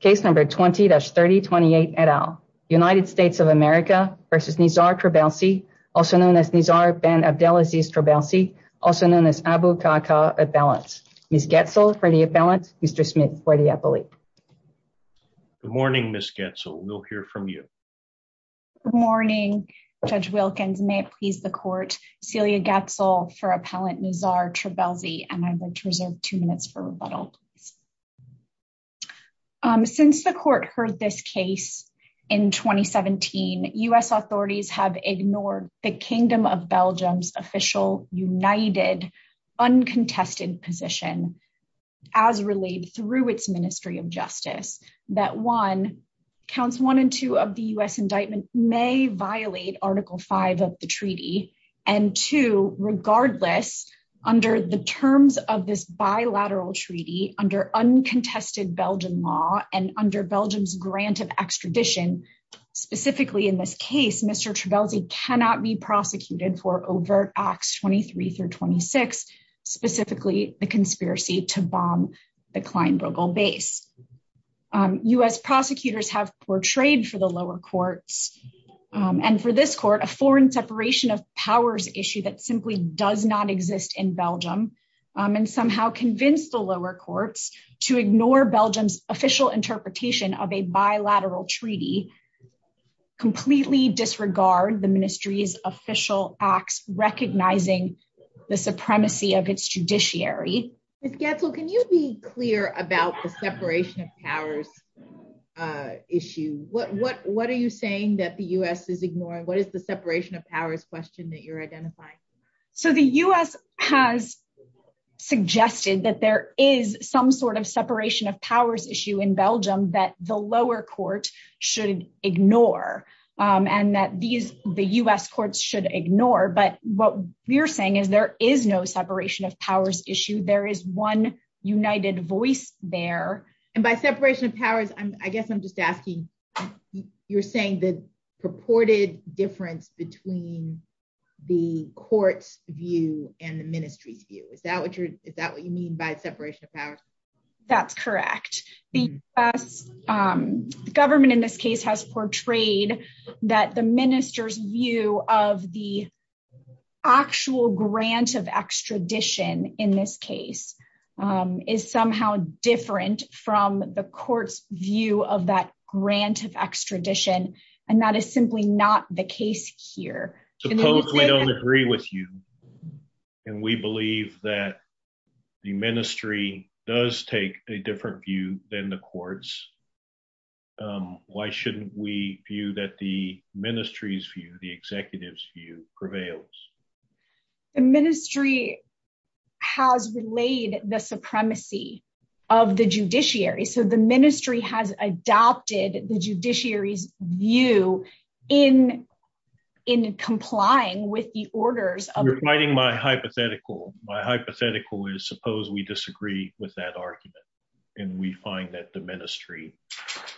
Case number 20-3028 et al. United States of America versus Nizar Trabelsi, also known as Nizar Ben Abdelaziz Trabelsi, also known as Abu Kaka Appellant. Ms. Goetzel for the appellant, Mr. Smith for the appellee. Good morning, Ms. Goetzel. We'll hear from you. Good morning, Judge Wilkins. May it please the court, Celia Goetzel for Appellant Nizar Trabelsi, and I would like to reserve two minutes for rebuttal. Since the court heard this case in 2017, U.S. authorities have ignored the Kingdom of Belgium's official, united, uncontested position, as relayed through its Ministry of Justice, that one, counts one and two of the U.S. indictment may violate Article V of the treaty, and two, regardless, under the terms of this bilateral treaty, under uncontested Belgian law, and under Belgium's grant of extradition, specifically in this case, Mr. Trabelsi cannot be prosecuted for overt Acts 23-26, specifically the conspiracy to bomb the Klein Bruegel base. U.S. prosecutors have portrayed for the lower courts, and for this court, a foreign separation of powers issue that simply does not exist in Belgium, and somehow convinced the lower courts to ignore Belgium's official interpretation of a bilateral treaty, completely disregard the ministry's official acts, recognizing the supremacy of its judiciary. Ms. Goetzel, can you be clear about the separation of powers issue? What are you saying that the U.S. is ignoring? What is the separation of powers question that you're identifying? So the U.S. has suggested that there is some sort of separation of powers issue in Belgium that the lower court should ignore, and that these, the U.S. courts should ignore, but what we're saying is there is no separation of powers issue. There is one united voice there. And by separation of powers, I guess I'm just asking, you're saying the purported difference between the court's view and the ministry's view. Is that what you're, is that what you mean by separation of powers? That's correct. The U.S. government in this case has portrayed that the minister's view of the grant of extradition, and that is simply not the case here. Suppose we don't agree with you, and we believe that the ministry does take a different view than the courts. Why shouldn't we view that the ministry's view, the executive's view prevails? The ministry has relayed the supremacy of the judiciary. So the ministry has adopted the judiciary's view in complying with the orders. You're fighting my hypothetical. My hypothetical is suppose we disagree with that argument, and we find that the ministry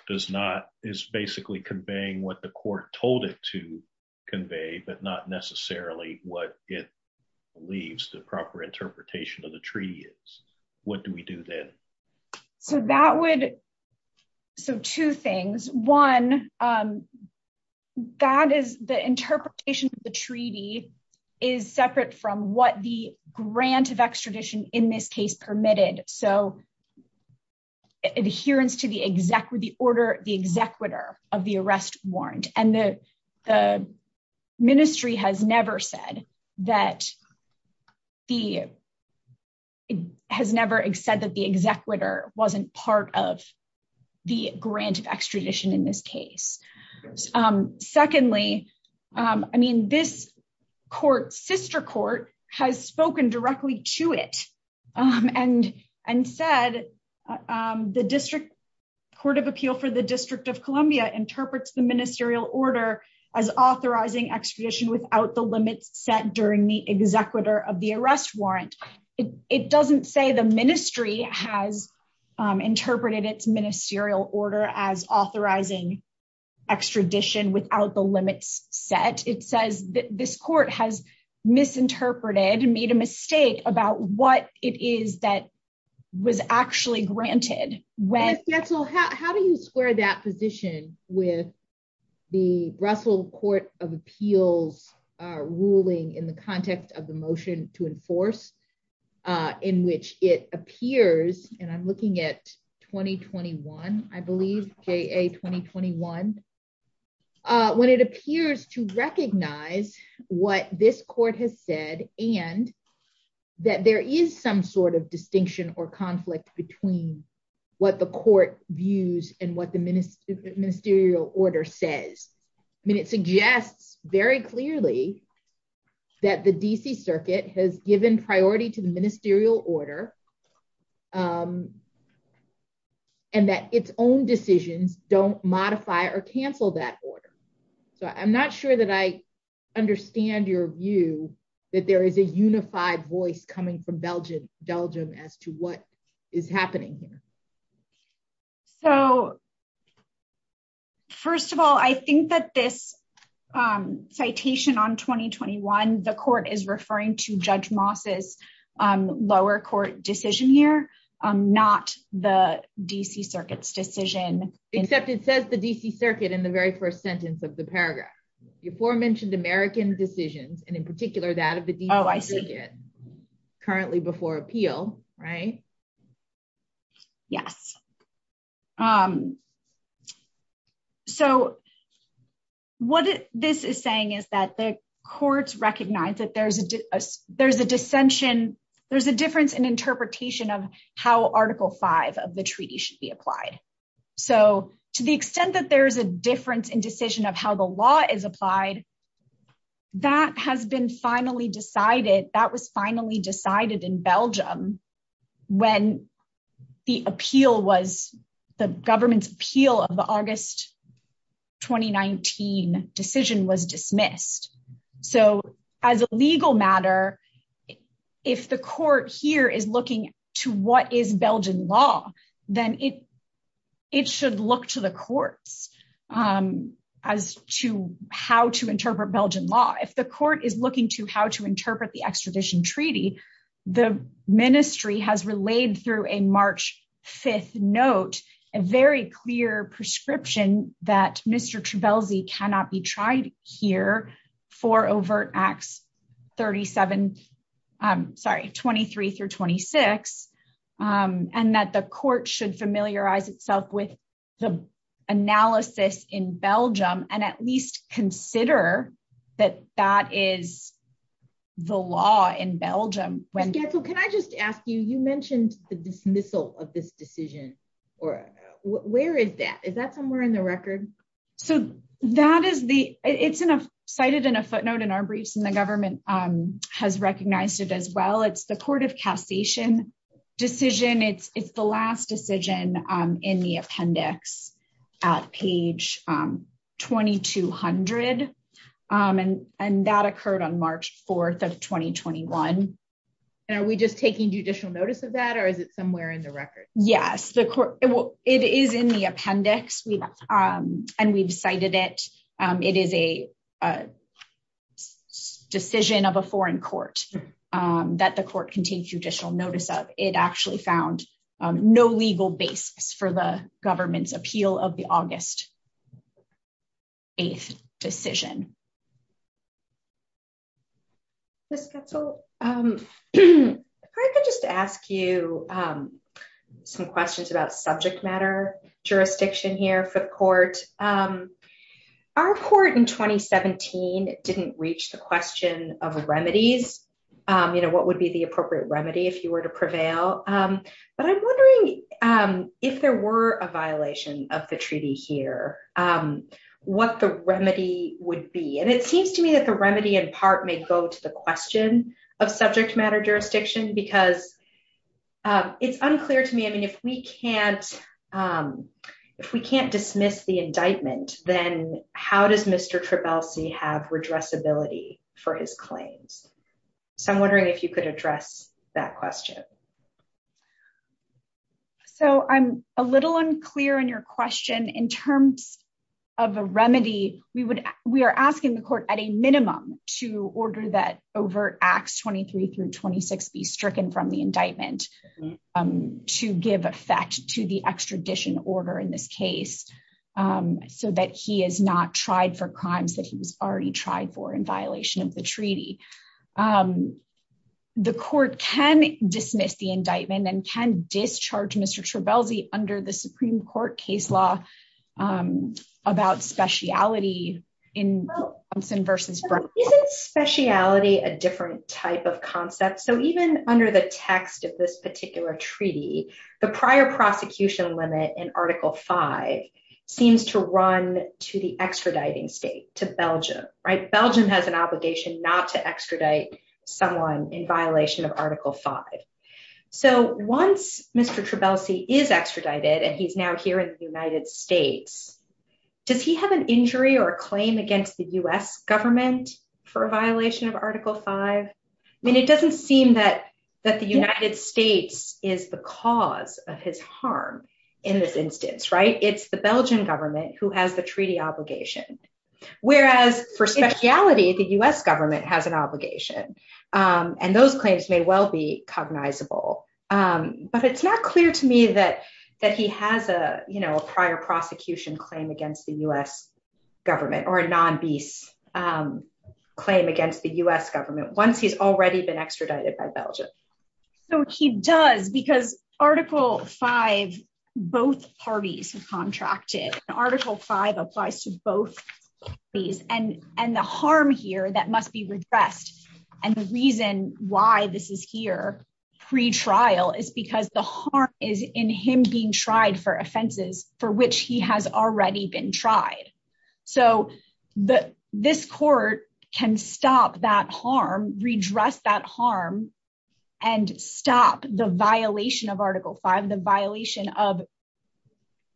does not, is basically conveying what the court told it to convey, but not necessarily what it believes the proper interpretation of the treaty is. What do we do then? So that would, so two things. One, that is the interpretation of the treaty is separate from what the grant of extradition in this case permitted. So adherence to the order, the executor of the arrest warrant, and the ministry has never said that the, has never said that the executor wasn't part of the grant of extradition in this case. Secondly, I mean, this court, sister court, has spoken directly to it and said the district court of appeal for the district of Columbia interprets the ministerial order as authorizing extradition without the limits set during the executor of the arrest warrant. It doesn't say the ministry has interpreted its ministerial order as made a mistake about what it is that was actually granted. How do you square that position with the Russell Court of Appeals ruling in the context of the motion to enforce, in which it appears, and I'm looking at 2021, I believe, JA 2021, when it appears to recognize what this court has said and that there is some sort of distinction or conflict between what the court views and what the ministerial order says. I mean, it suggests very clearly that the DC circuit has given priority to the ministerial order and that its own decisions don't modify or cancel that order. So I'm not sure that I understand your view that there is a unified voice coming from Belgium as to what is happening. So first of all, I think that this citation on 2021, the court is referring to Judge Moss's lower court decision here, not the DC circuit's decision. Except it says the DC circuit in the very first sentence of the paragraph. You aforementioned American decisions and in particular that of the DC circuit currently before appeal, right? Yes. So what this is saying is that the courts recognize that there's a dissension, there's a difference in interpretation of how Article V of the treaty should be applied. So to the extent that there is a difference in decision of how the law is applied, that has been finally decided, that was finally decided in Belgium when the appeal was, the government's appeal of the August 2019 decision was dismissed. So as a legal matter, if the court here is looking to what is Belgian law, then it should look to the courts as to how to interpret Belgian law. If the court is looking to how to interpret the extradition treaty, the ministry has relayed through a March 5th note, a very clear prescription that Mr. Belzy cannot be tried here for overt acts 37, sorry, 23 through 26. And that the court should familiarize itself with the analysis in Belgium and at least consider that that is the law in Belgium. Ms. Gatzel, can I just ask you, you mentioned the dismissal of this decision or where is that? Is that somewhere in the record? So that is the, it's cited in a footnote in our briefs and the government has recognized it as well. It's the court of cassation decision. It's the last decision in the appendix at page 2200. And that occurred on March 4th of 2021. And are we just taking judicial notice of that or is it somewhere in the record? Yes, it is in the appendix and we've cited it. It is a decision of a foreign court that the court can take judicial notice of. It actually found no legal basis for the government's appeal of the August 8th decision. Ms. Gatzel, if I could just ask you some questions about subject matter jurisdiction here for the court. Our court in 2017 didn't reach the question of remedies. What would be the appropriate remedy if you were to prevail? But I'm wondering if there were a seems to me that the remedy in part may go to the question of subject matter jurisdiction because it's unclear to me. I mean, if we can't dismiss the indictment, then how does Mr. Trebalsi have redressability for his claims? So I'm wondering if you could address that question. So I'm a little unclear on your question in terms of a remedy. We are asking the court at a minimum to order that overt acts 23 through 26 be stricken from the indictment to give effect to the extradition order in this case so that he is not tried for crimes that he was already tried for in and can discharge Mr. Trebalsi under the Supreme Court case law about speciality. Isn't speciality a different type of concept? So even under the text of this particular treaty, the prior prosecution limit in Article 5 seems to run to the extraditing state, to Belgium, right? So once Mr. Trebalsi is extradited and he's now here in the United States, does he have an injury or claim against the U.S. government for a violation of Article 5? I mean, it doesn't seem that the United States is the cause of his harm in this instance, right? It's the Belgian government who has the treaty obligation, whereas for speciality, the U.S. government has an obligation. And those claims may well be cognizable, but it's not clear to me that he has a prior prosecution claim against the U.S. government or a non-bis claim against the U.S. government once he's already been extradited by Belgium. So he does because Article 5, both parties have contracted and Article 5 applies to both parties. And the harm here that must be redressed and the reason why this is here pre-trial is because the harm is in him being tried for offenses for which he has already been tried. So this court can stop that the violation of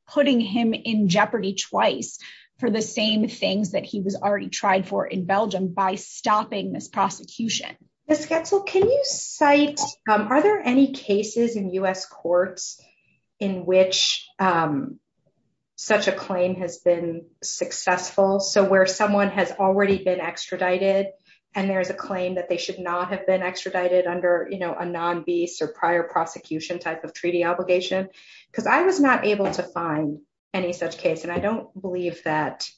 putting him in jeopardy twice for the same things that he was already tried for in Belgium by stopping this prosecution. Ms. Goetzel, are there any cases in U.S. courts in which such a claim has been successful? So where someone has already been extradited and there's a claim that they should not have been extradited under a non-bis or prior prosecution type of treaty obligation? Because I was not able to find any such case and I don't believe that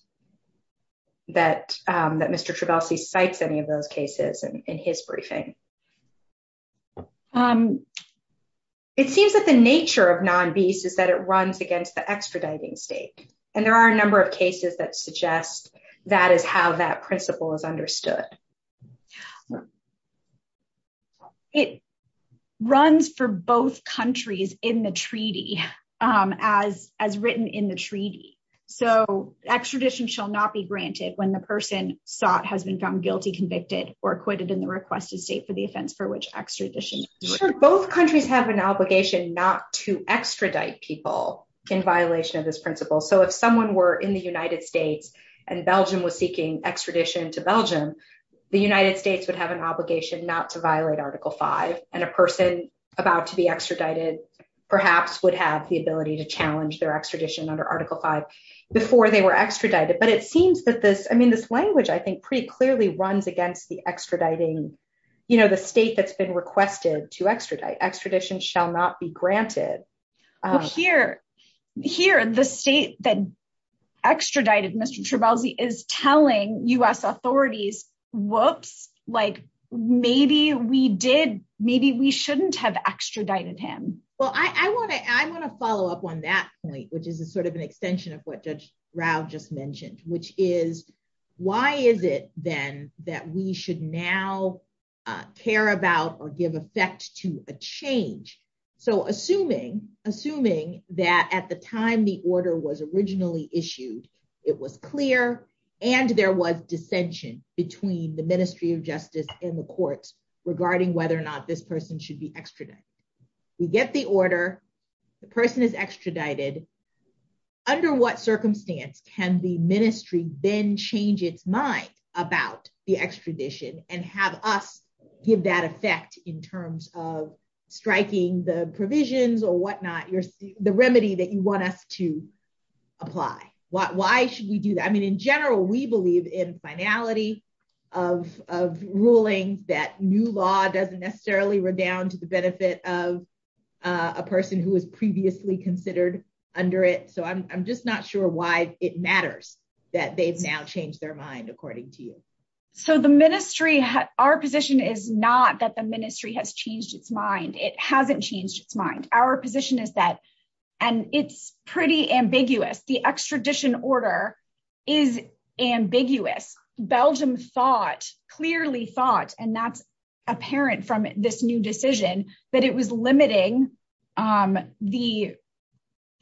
Mr. Trabalsi cites any of those cases in his briefing. It seems that the nature of non-bis is that it runs against the extraditing state and there are a number of cases that suggest that is how that principle is understood. It runs for both countries in the treaty as written in the treaty. So extradition shall not be granted when the person sought has been found guilty convicted or acquitted in the requested state for the offense for which extradition. Sure, both countries have an obligation not to extradite people in violation of this principle. So if someone were in the United States and Belgium was seeking extradition to Belgium, the United States would have an obligation not to violate article 5 and a person about to be extradited perhaps would have the ability to challenge their extradition under article 5 before they were extradited. But it seems that this I mean this language I think pretty clearly runs against the extraditing you know the state that's been requested to extradite. Extradition shall not be granted. Here the state that extradited Mr. Trebalzi is telling U.S. authorities whoops like maybe we did maybe we shouldn't have extradited him. Well I want to I want to follow up on that point which is a sort of an extension of what Judge Rao just mentioned which is why is it then that we should now care about or give effect to a change. So assuming assuming that at the time the order was it was clear and there was dissension between the ministry of justice and the courts regarding whether or not this person should be extradited. We get the order the person is extradited under what circumstance can the ministry then change its mind about the extradition and have us give that effect in terms of striking the provisions or whatnot you're the remedy that you want us to apply. Why should we do that? I mean in general we believe in finality of ruling that new law doesn't necessarily redound to the benefit of a person who was previously considered under it. So I'm just not sure why it matters that they've now changed their mind according to you. So the ministry our position is not that the ministry has changed its mind. It hasn't changed its mind. Our position is that and it's pretty ambiguous the extradition order is ambiguous. Belgium thought clearly thought and that's apparent from this new decision that it was limiting the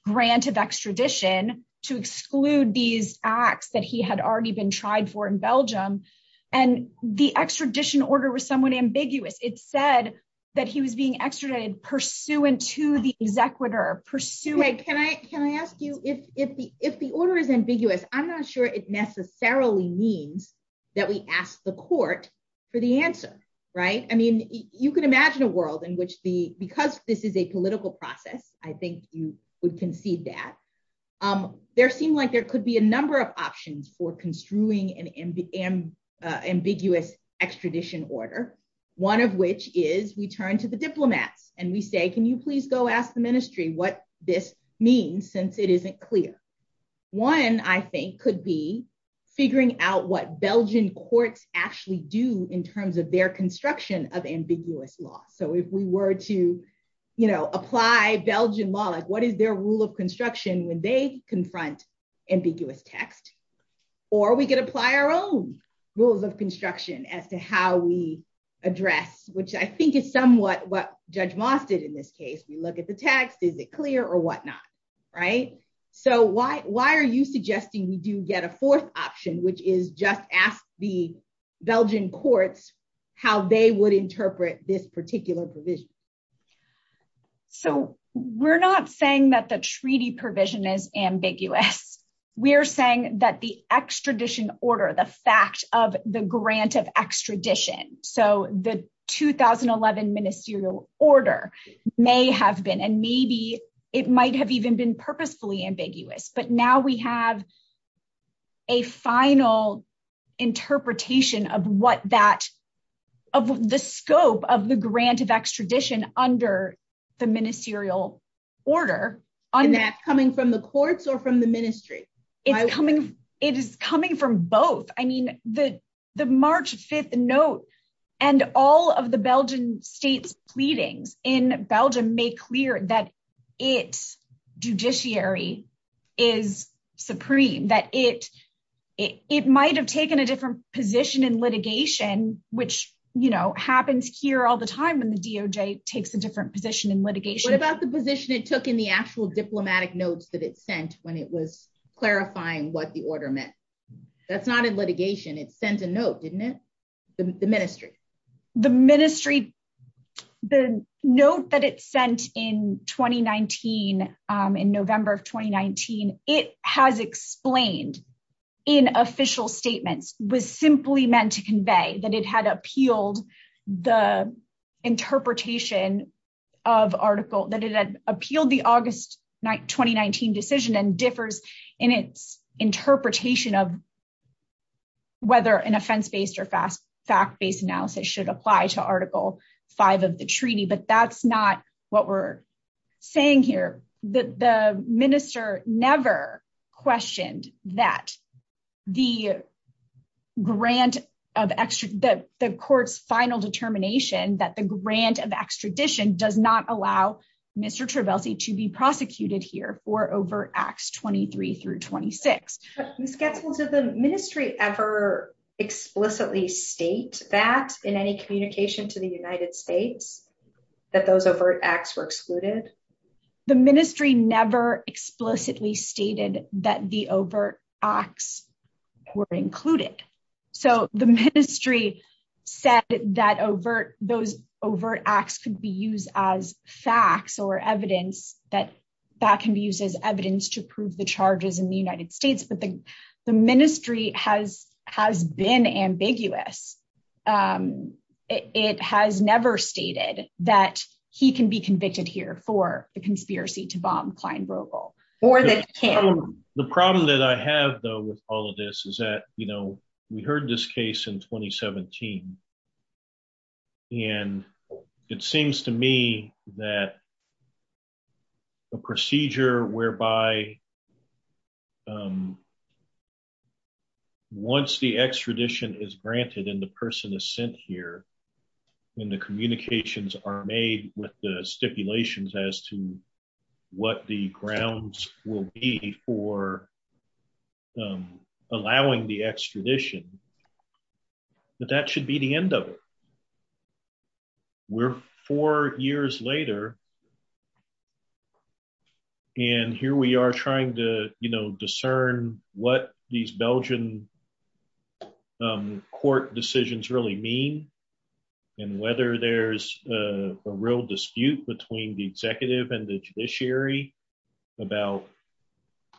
grant of extradition to exclude these acts that he had already been tried for in Belgium and the extradition order was somewhat ambiguous. It said that he was being extradited pursuant to the executor pursuing. Can I ask you if the order is ambiguous I'm not sure it necessarily means that we ask the court for the answer right? I mean you could imagine a world in which the because this is a political process I think you would concede that there seemed like there could be a number of options for construing an ambiguous extradition order one of which is we turn to the diplomats and we say can you please go ask the ministry what this means since it isn't clear. One I think could be figuring out what Belgian courts actually do in terms of their construction of ambiguous law. So if we were to you know apply Belgian law like what is their rule of construction when they confront ambiguous text or we could apply our own rules of construction as to how we address which I think is somewhat what Judge Moss did in this case we look at the text is it clear or whatnot right? So why are you suggesting we do get a fourth option which is just ask the Belgian courts how they would interpret this particular provision? So we're not saying that the treaty provision is ambiguous we're saying that the extradition order the fact of the grant of extradition so the 2011 ministerial order may have been and maybe it might have even been purposefully ambiguous but now we have a final interpretation of what that of the scope of the grant of extradition under the ministerial order. And that's coming from the courts or from the ministry? It's coming it is coming from both I mean the the March 5th note and all of the Belgian states pleadings in Belgium make clear that its judiciary is supreme that it it might have taken a different position in litigation which you know happens here all the time when the DOJ takes a different position in litigation. What about the position it took in the actual diplomatic notes that it sent when it was clarifying what the order meant that's not in litigation it sent a note didn't it the ministry? The ministry the note that it sent in 2019 in November of 2019 it has explained in official statements was simply meant to convey that it had appealed the differs in its interpretation of whether an offense-based or fact-based analysis should apply to article 5 of the treaty but that's not what we're saying here that the minister never questioned that the grant of extra the court's final determination that the grant of extradition does not allow Mr. Trabelsi to be prosecuted here for overt acts 23 through 26. Ms. Getzels, did the ministry ever explicitly state that in any communication to the United States that those overt acts were excluded? The ministry never explicitly stated that the overt acts were as facts or evidence that that can be used as evidence to prove the charges in the United States but the the ministry has has been ambiguous. It has never stated that he can be convicted here for the conspiracy to bomb Kleinbrogl or that the problem that I have though with all of this is you know we heard this case in 2017 and it seems to me that a procedure whereby once the extradition is granted and the person is sent here and the communications are made with the stipulations as to what the grounds will be for allowing the extradition but that should be the end of it. We're four years later and here we are trying to you know discern what these Belgian court decisions really mean and whether there's a real dispute between the executive and the judiciary about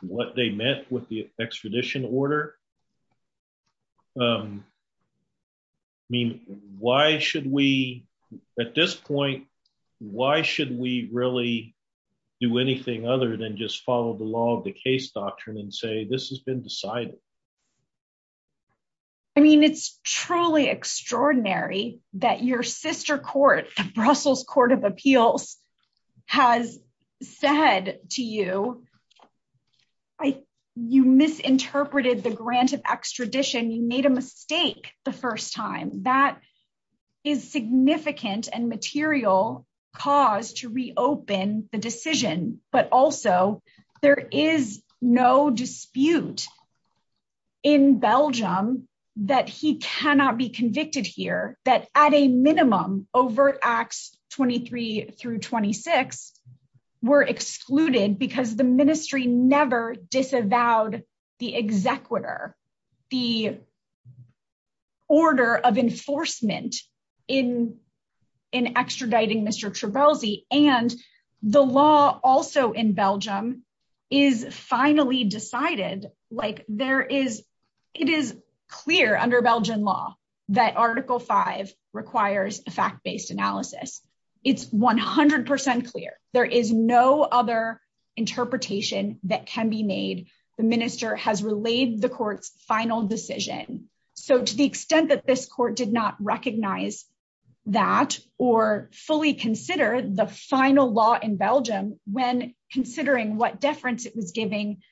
what they meant with the extradition order. I mean why should we at this point why should we really do anything other than just follow the law of the case doctrine and say this has been decided? I mean it's truly extraordinary that your sister court, the Brussels Court of Appeals, has said to you you misinterpreted the grant of extradition. You made a mistake the first time. That is significant and material cause to reopen the decision but also there is no dispute in Belgium that he cannot be convicted here that at a minimum overt acts 23 through 26 were excluded because the ministry never disavowed the executor the order of enforcement in in extraditing Mr. Trebalzi and the law also in Belgium is finally decided like there is it is clear under Belgian law that article 5 requires a fact-based analysis. It's 100 clear there is no other interpretation that can be made. The minister has relayed the court's final decision so to the extent that this court did not recognize that or fully consider the final law in Belgium when considering what deference it was giving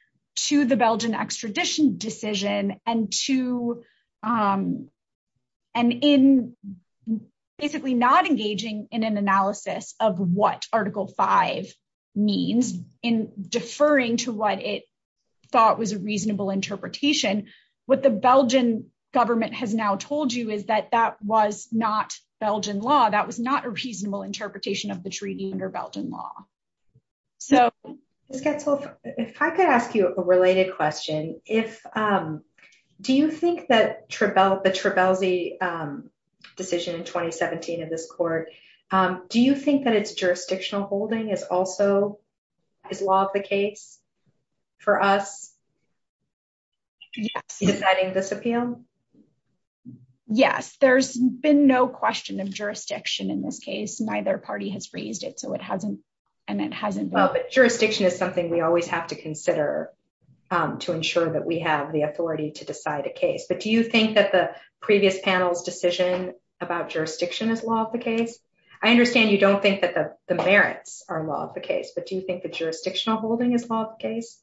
to the Belgian extradition decision and to and in basically not engaging in an analysis of what article 5 means in deferring to what it thought was a reasonable interpretation what the Belgian government has now told you is that that was not Belgian law that was not a reasonable interpretation of the treaty under Belgian law. So if I could ask you a related question if do you think that Trebalzi decision in 2017 of this court do you think that it's jurisdictional holding is also is law of the case for us deciding this appeal? Yes there's been no question of jurisdiction in this case neither party has raised it so it hasn't and it hasn't well but jurisdiction is something we always have to consider to ensure that we have the authority to decide a case but do you think that the previous panel's decision about jurisdiction is law of the case? I understand you don't think that the merits are law of the case but do you think the jurisdictional holding is law of the case?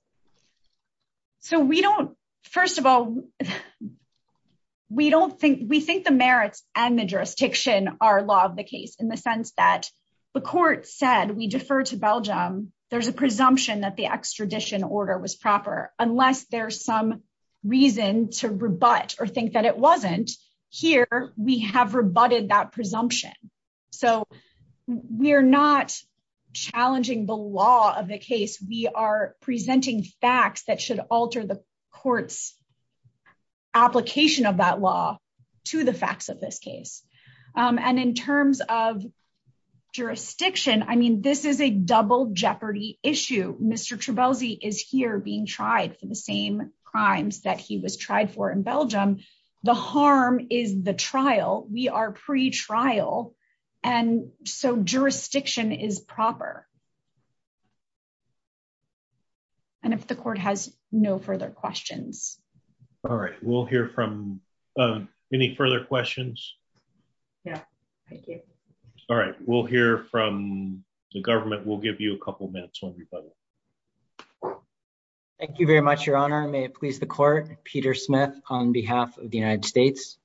So we don't first of all we don't think we think the merits and the jurisdiction are law of the case in the sense that the court said we defer to Belgium there's a presumption that the extradition order was proper unless there's some reason to rebut or think that it wasn't here we have rebutted that presumption so we're not challenging the law of the case we are presenting facts that should alter the court's application of that law to the facts of this case and in terms of jurisdiction I mean this is a was tried for in Belgium the harm is the trial we are pre-trial and so jurisdiction is proper and if the court has no further questions. All right we'll hear from any further questions yeah thank you all right we'll hear from the government we'll give you a couple minutes public thank you very much your honor may it please the court Peter Smith on behalf of the United States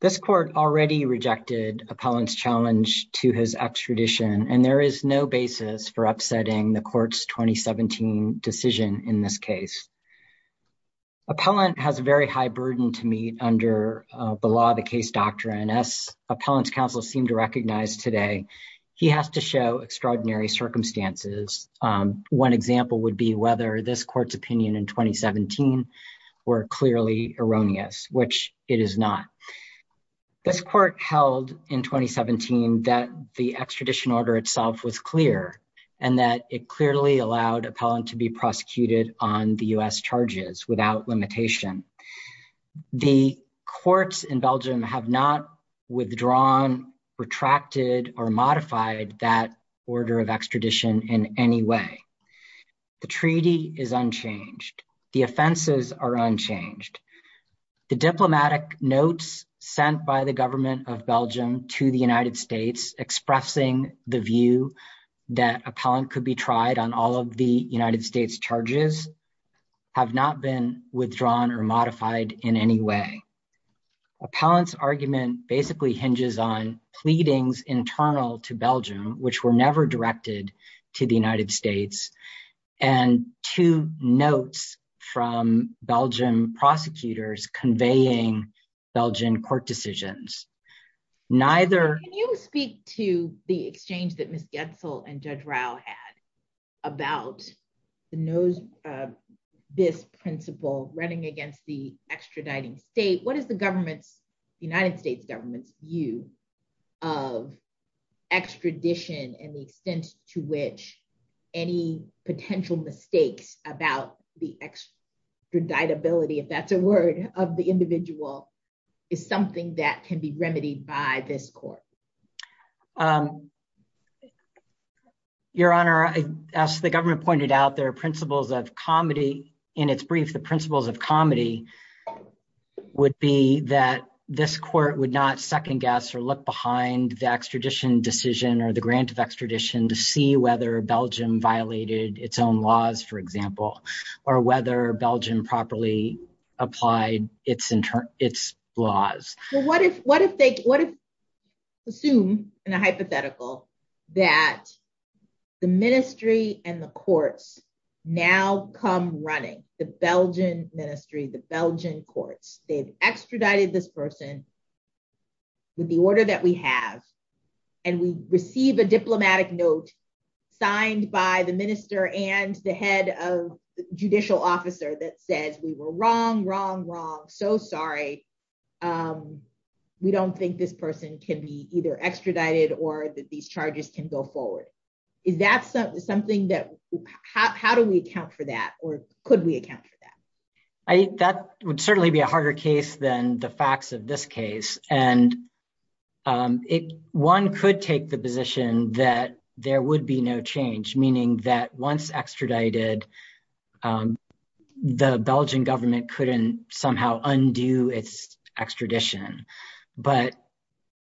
this court already rejected appellant's challenge to his extradition and there is no basis for upsetting the court's 2017 decision in this case appellant has a very high burden to meet under the law of the case doctrine as appellants counsel seem to recognize today he has to show extraordinary circumstances one example would be whether this court's opinion in 2017 were clearly erroneous which it is not this court held in 2017 that the extradition order itself was clear and that it clearly allowed appellant to be prosecuted on the U.S. charges without limitation the courts in Belgium have not withdrawn retracted or modified that order of extradition in any way the treaty is unchanged the offenses are unchanged the diplomatic notes sent by the government of Belgium to the United States expressing the view that appellant could be tried on all of the United States charges have not been withdrawn or modified in any way appellant's argument basically hinges on pleadings internal to Belgium which were never directed to the United States and two notes from Belgium prosecutors conveying Belgian court decisions neither can you speak to the exchange that Miss Getzel and Judge Rao had about the nose this principle running against the extraditing state what is the government's United States government's view of extradition and the extent to which any potential mistakes about the extradited ability if that's a word of the individual is something that can be remedied by this court your honor as the government pointed out there are principles of comedy in its brief the principles of comedy would be that this court would not second guess or look behind the extradition decision or the grant of extradition to see whether Belgium violated its laws for example or whether Belgium properly applied its internal its laws well what if what if they what if assume in a hypothetical that the ministry and the courts now come running the Belgian ministry the Belgian courts they've extradited this person with the order that we have and we receive a diplomatic note signed by the minister and the head of the judicial officer that says we were wrong wrong wrong so sorry we don't think this person can be either extradited or that these charges can go forward is that something that how do we account for that or could we account for that I think that would certainly be a harder case than the facts of this case and it one could take the position that there would be no change meaning that once extradited the Belgian government couldn't somehow undo its extradition but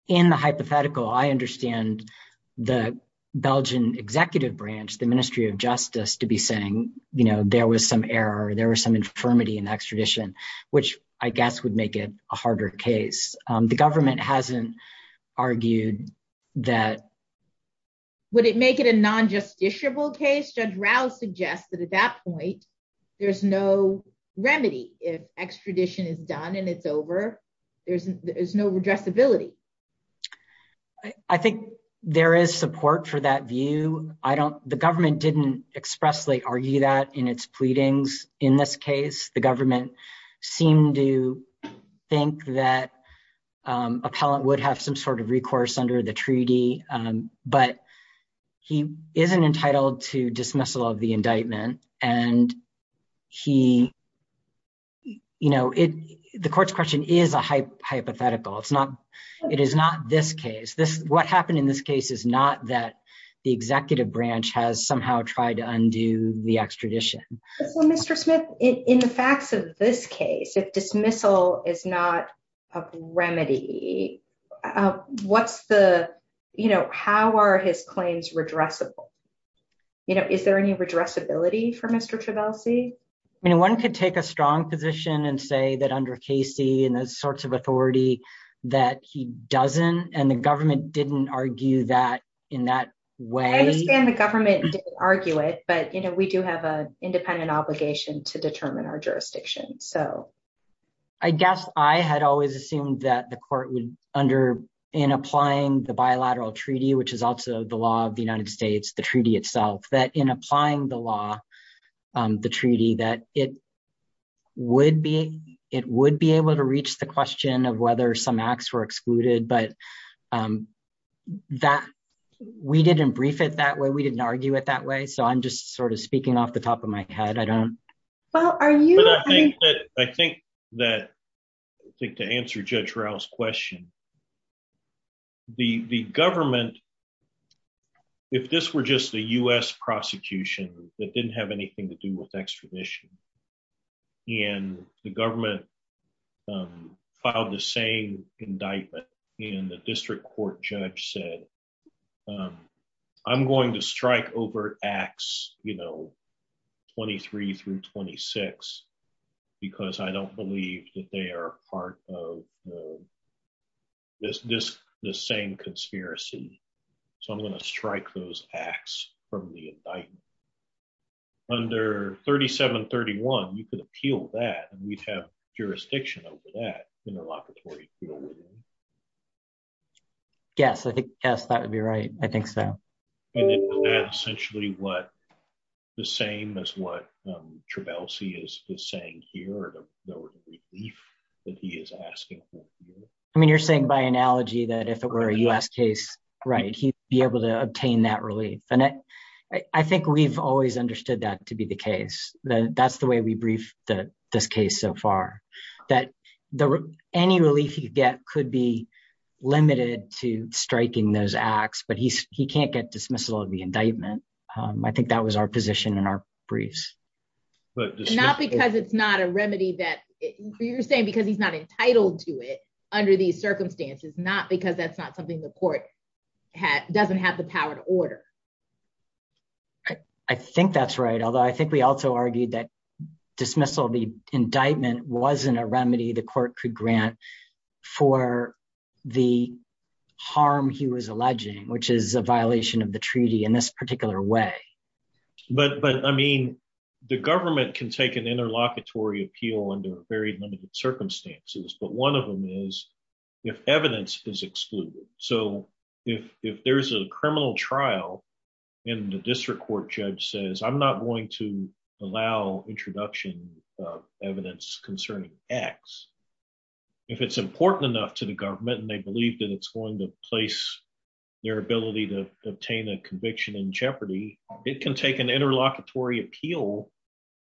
in the hypothetical I understand the Belgian executive branch the ministry of justice to be saying you know there was some error there was some infirmity in extradition which I guess would make it a harder case the government hasn't argued that would it make it a non-justiciable case Judge Rouse suggests that at that point there's no remedy if extradition is done and it's over there's there's no redressability I think there is support for that view I don't the government didn't expressly argue that in its pleadings in this case the government seemed to think that appellant would have some sort of recourse under the treaty but he isn't entitled to dismissal of the indictment and he you know it the court's question is a hypothetical it's not it is not this case this what happened in this case is not that the executive branch has somehow tried to undo the extradition well Mr. Smith in the facts of this case if dismissal is not a remedy what's the you know how are his claims redressable you know is there any redressability for Mr. Travelsi I mean one could take a strong position and say that under Casey and those sorts of authority that he doesn't and the government didn't argue that in that way I understand the government didn't argue it but you know we do have a independent obligation to determine our jurisdiction so I guess I had always assumed that the court would under in applying the bilateral treaty which is also the law of the United States the treaty itself that in applying the law the treaty that it would be it would be able to reach the question of whether some acts were excluded but that we didn't brief it that way we didn't argue it that way so I'm just sort of speaking off the top of my head I don't well are you I think that I think that I think to answer Judge Rowell's question the the government if this were just a U.S. prosecution that didn't have anything to do with extradition and the government filed the same indictment and the district court judge said I'm going to strike over acts you know 23 through 26 because I don't believe that they are part of this this the same conspiracy so I'm going to strike those acts from the indictment under 3731 you could appeal that and we'd have jurisdiction over that interlocutory yes I think yes that would be right I think so and that's essentially what the same as what Trabalsi is saying here or the relief that he is asking for I mean you're saying by analogy that if it were a U.S. case right he'd be able to obtain that case that's the way we briefed the this case so far that the any relief you get could be limited to striking those acts but he's he can't get dismissal of the indictment I think that was our position in our briefs but not because it's not a remedy that you're saying because he's not entitled to it under these circumstances not because that's not something the court had doesn't have the power to order I think that's right although I think we also argued that dismissal the indictment wasn't a remedy the court could grant for the harm he was alleging which is a violation of the treaty in this particular way but but I mean the government can take an interlocutory appeal under very limited circumstances but one of them is if evidence is excluded so if if there's a criminal trial and the district court judge says I'm not going to allow introduction of evidence concerning x if it's important enough to the government and they believe that it's going to place their ability to obtain a conviction in jeopardy it can take an interlocutory appeal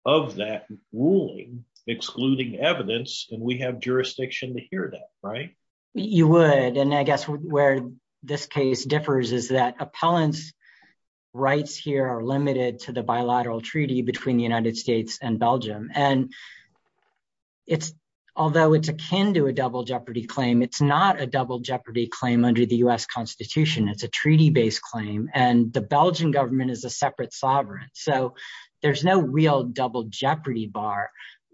of that ruling excluding evidence and we have jurisdiction to hear that right you would and I guess where this case differs is that appellants rights here are limited to the bilateral treaty between the United States and Belgium and it's although it's akin to a double jeopardy claim it's not a double jeopardy claim under the U.S. Constitution it's a treaty-based claim and the Belgian government is a separate sovereign so there's no real double jeopardy bar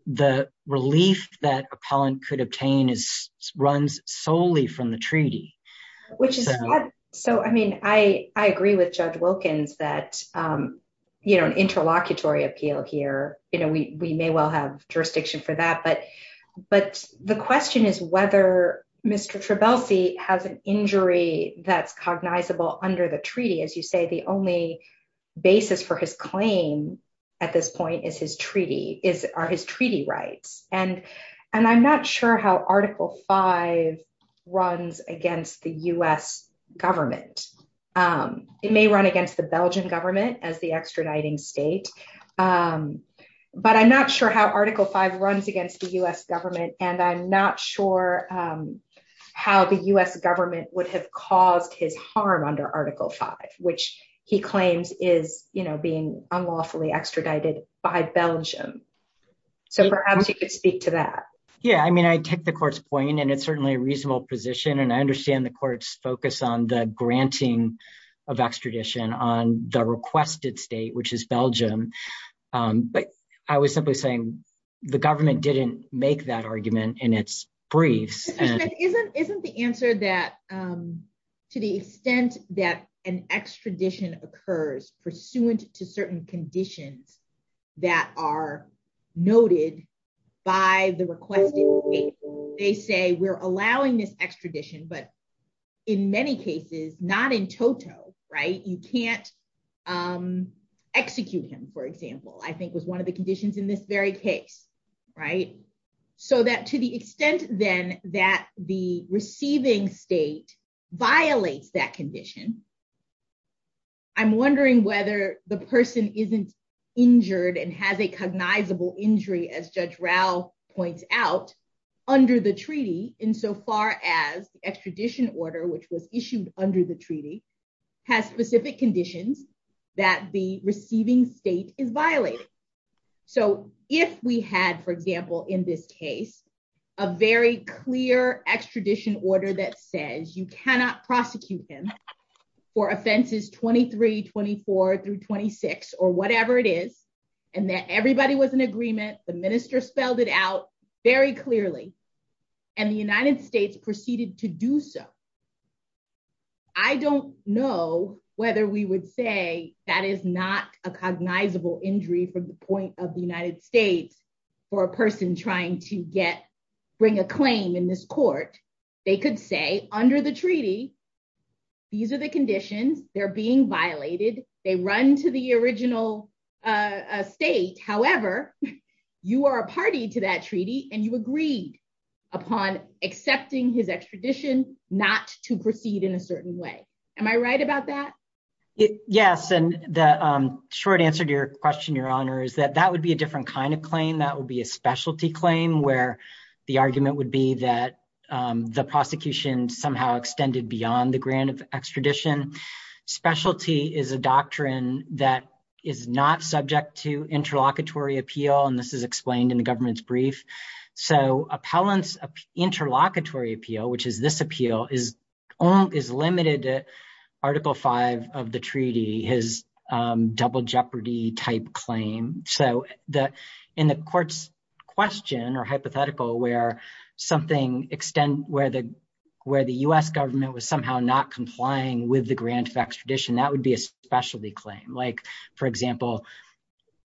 the relief that appellant could obtain is runs solely from the treaty which is so I mean I I agree with Judge Wilkins that um you know an interlocutory appeal here you know we we may well have jurisdiction for that but but the question is whether Mr. has an injury that's cognizable under the treaty as you say the only basis for his claim at this point is his treaty is are his treaty rights and and I'm not sure how article 5 runs against the U.S. government um it may run against the Belgian government as the extraditing state um but I'm not sure how article 5 runs against the U.S. government and I'm not sure um how the U.S. government would have caused his harm under article 5 which he claims is you know being unlawfully extradited by Belgium so perhaps you could speak to that yeah I mean I take the court's point and it's certainly a reasonable position and I understand the court's focus on the granting of extradition on the requested state which is Belgium um but I was simply saying the government didn't make that argument in its briefs and isn't isn't the answer that um to the extent that an extradition occurs pursuant to certain conditions that are noted by the requested state they say we're allowing this extradition but in many cases not in toto right you can't um execute him for example I think was one of the conditions in this very case right so that to the extent then that the receiving state violates that condition I'm wondering whether the person isn't injured and has a cognizable injury as Judge Rao points out under the treaty insofar as the extradition order which was issued under the conditions that the receiving state is violated so if we had for example in this case a very clear extradition order that says you cannot prosecute him for offenses 23 24 through 26 or whatever it is and that everybody was in agreement the minister spelled it out very clearly and the United States proceeded to do so I don't know whether we would say that is not a cognizable injury from the point of the United States for a person trying to get bring a claim in this court they could say under the treaty these are the conditions they're being violated they run to the original uh state however you are a party to that treaty and you agreed upon accepting his extradition not to proceed in a certain way am I right about that yes and the um short answer to your question your honor is that that would be a different kind of claim that would be a specialty claim where the argument would be that um the prosecution somehow extended beyond the grant of extradition specialty is a doctrine that is not subject to interlocutory appeal and this is explained in the government's brief so appellants interlocutory appeal which is this appeal is only is limited to article five of the treaty his um double jeopardy type claim so the in the court's question or hypothetical where something extend where the U.S. government was somehow not complying with the grant of extradition that would be a specialty claim like for example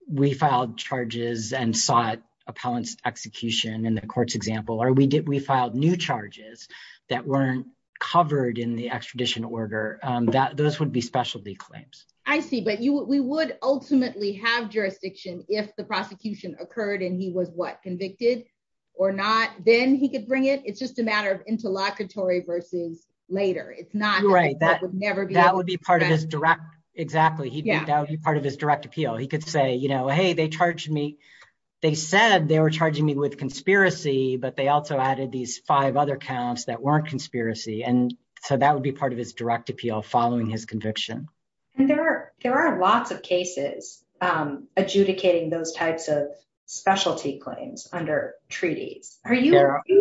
we filed charges and sought appellants execution in the court's example or we did we filed new charges that weren't covered in the extradition order that those would be specialty claims I see but you we would ultimately have jurisdiction if the prosecution occurred and was what convicted or not then he could bring it it's just a matter of interlocutory versus later it's not right that would never be that would be part of his direct exactly he did that would be part of his direct appeal he could say you know hey they charged me they said they were charging me with conspiracy but they also added these five other counts that weren't conspiracy and so that would be part of his direct appeal following his conviction and there are there are lots of cases um adjudicating those types of specialty claims under treaties are you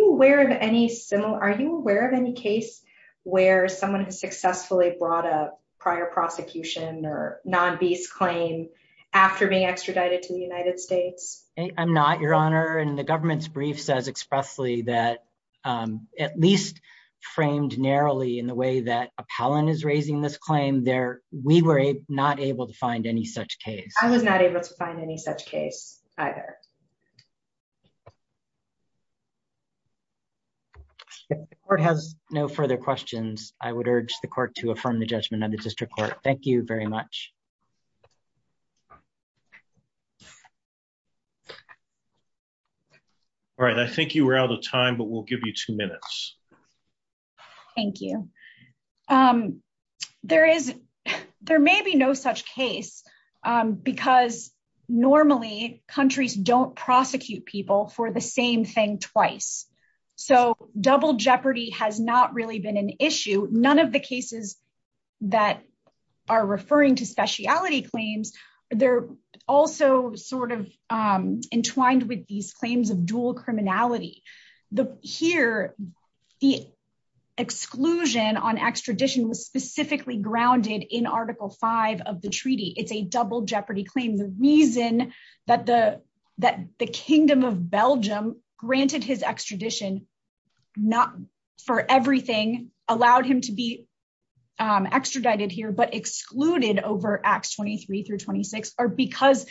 aware of any similar are you aware of any case where someone has successfully brought a prior prosecution or non-beast claim after being extradited to the United States I'm not your honor and the government's brief says expressly that um at least framed narrowly in the way that appellant is raising this claim there we were not able to find any such case I was not able to find any such case either the court has no further questions I would urge the court to affirm the judgment of the district court thank you very much all right I think you were out of time but we'll give you minutes thank you um there is there may be no such case um because normally countries don't prosecute people for the same thing twice so double jeopardy has not really been an issue none of the cases that are referring to speciality claims they're also sort of um entwined with these the exclusion on extradition was specifically grounded in article 5 of the treaty it's a double jeopardy claim the reason that the that the kingdom of Belgium granted his extradition not for everything allowed him to be um extradited here but excluded over acts 23 through 26 are because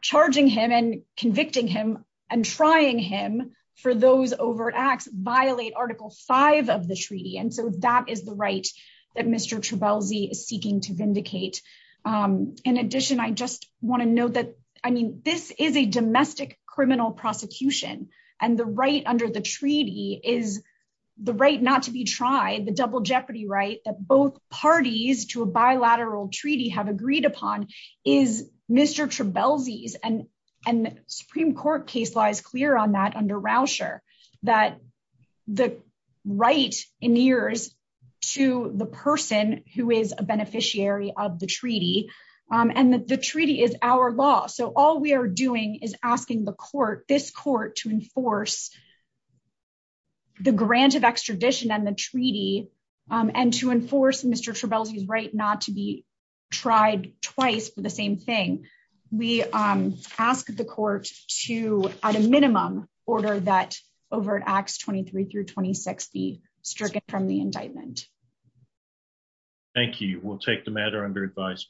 charging him and convicting him and trying him for those overt acts violate article 5 of the treaty and so that is the right that Mr. Trebalzi is seeking to vindicate in addition I just want to note that I mean this is a domestic criminal prosecution and the right under the treaty is the right not to be tried the double jeopardy right that both parties to bilateral treaty have agreed upon is Mr. Trebalzi's and and Supreme Court case lies clear on that under Rauscher that the right in years to the person who is a beneficiary of the treaty and the treaty is our law so all we are doing is asking the court this court to enforce the grant of extradition and the treaty um and to enforce Mr. Trebalzi's right not to be tried twice for the same thing we um ask the court to at a minimum order that overt acts 23 through 26 be stricken from the indictment thank you we'll take the matter under advice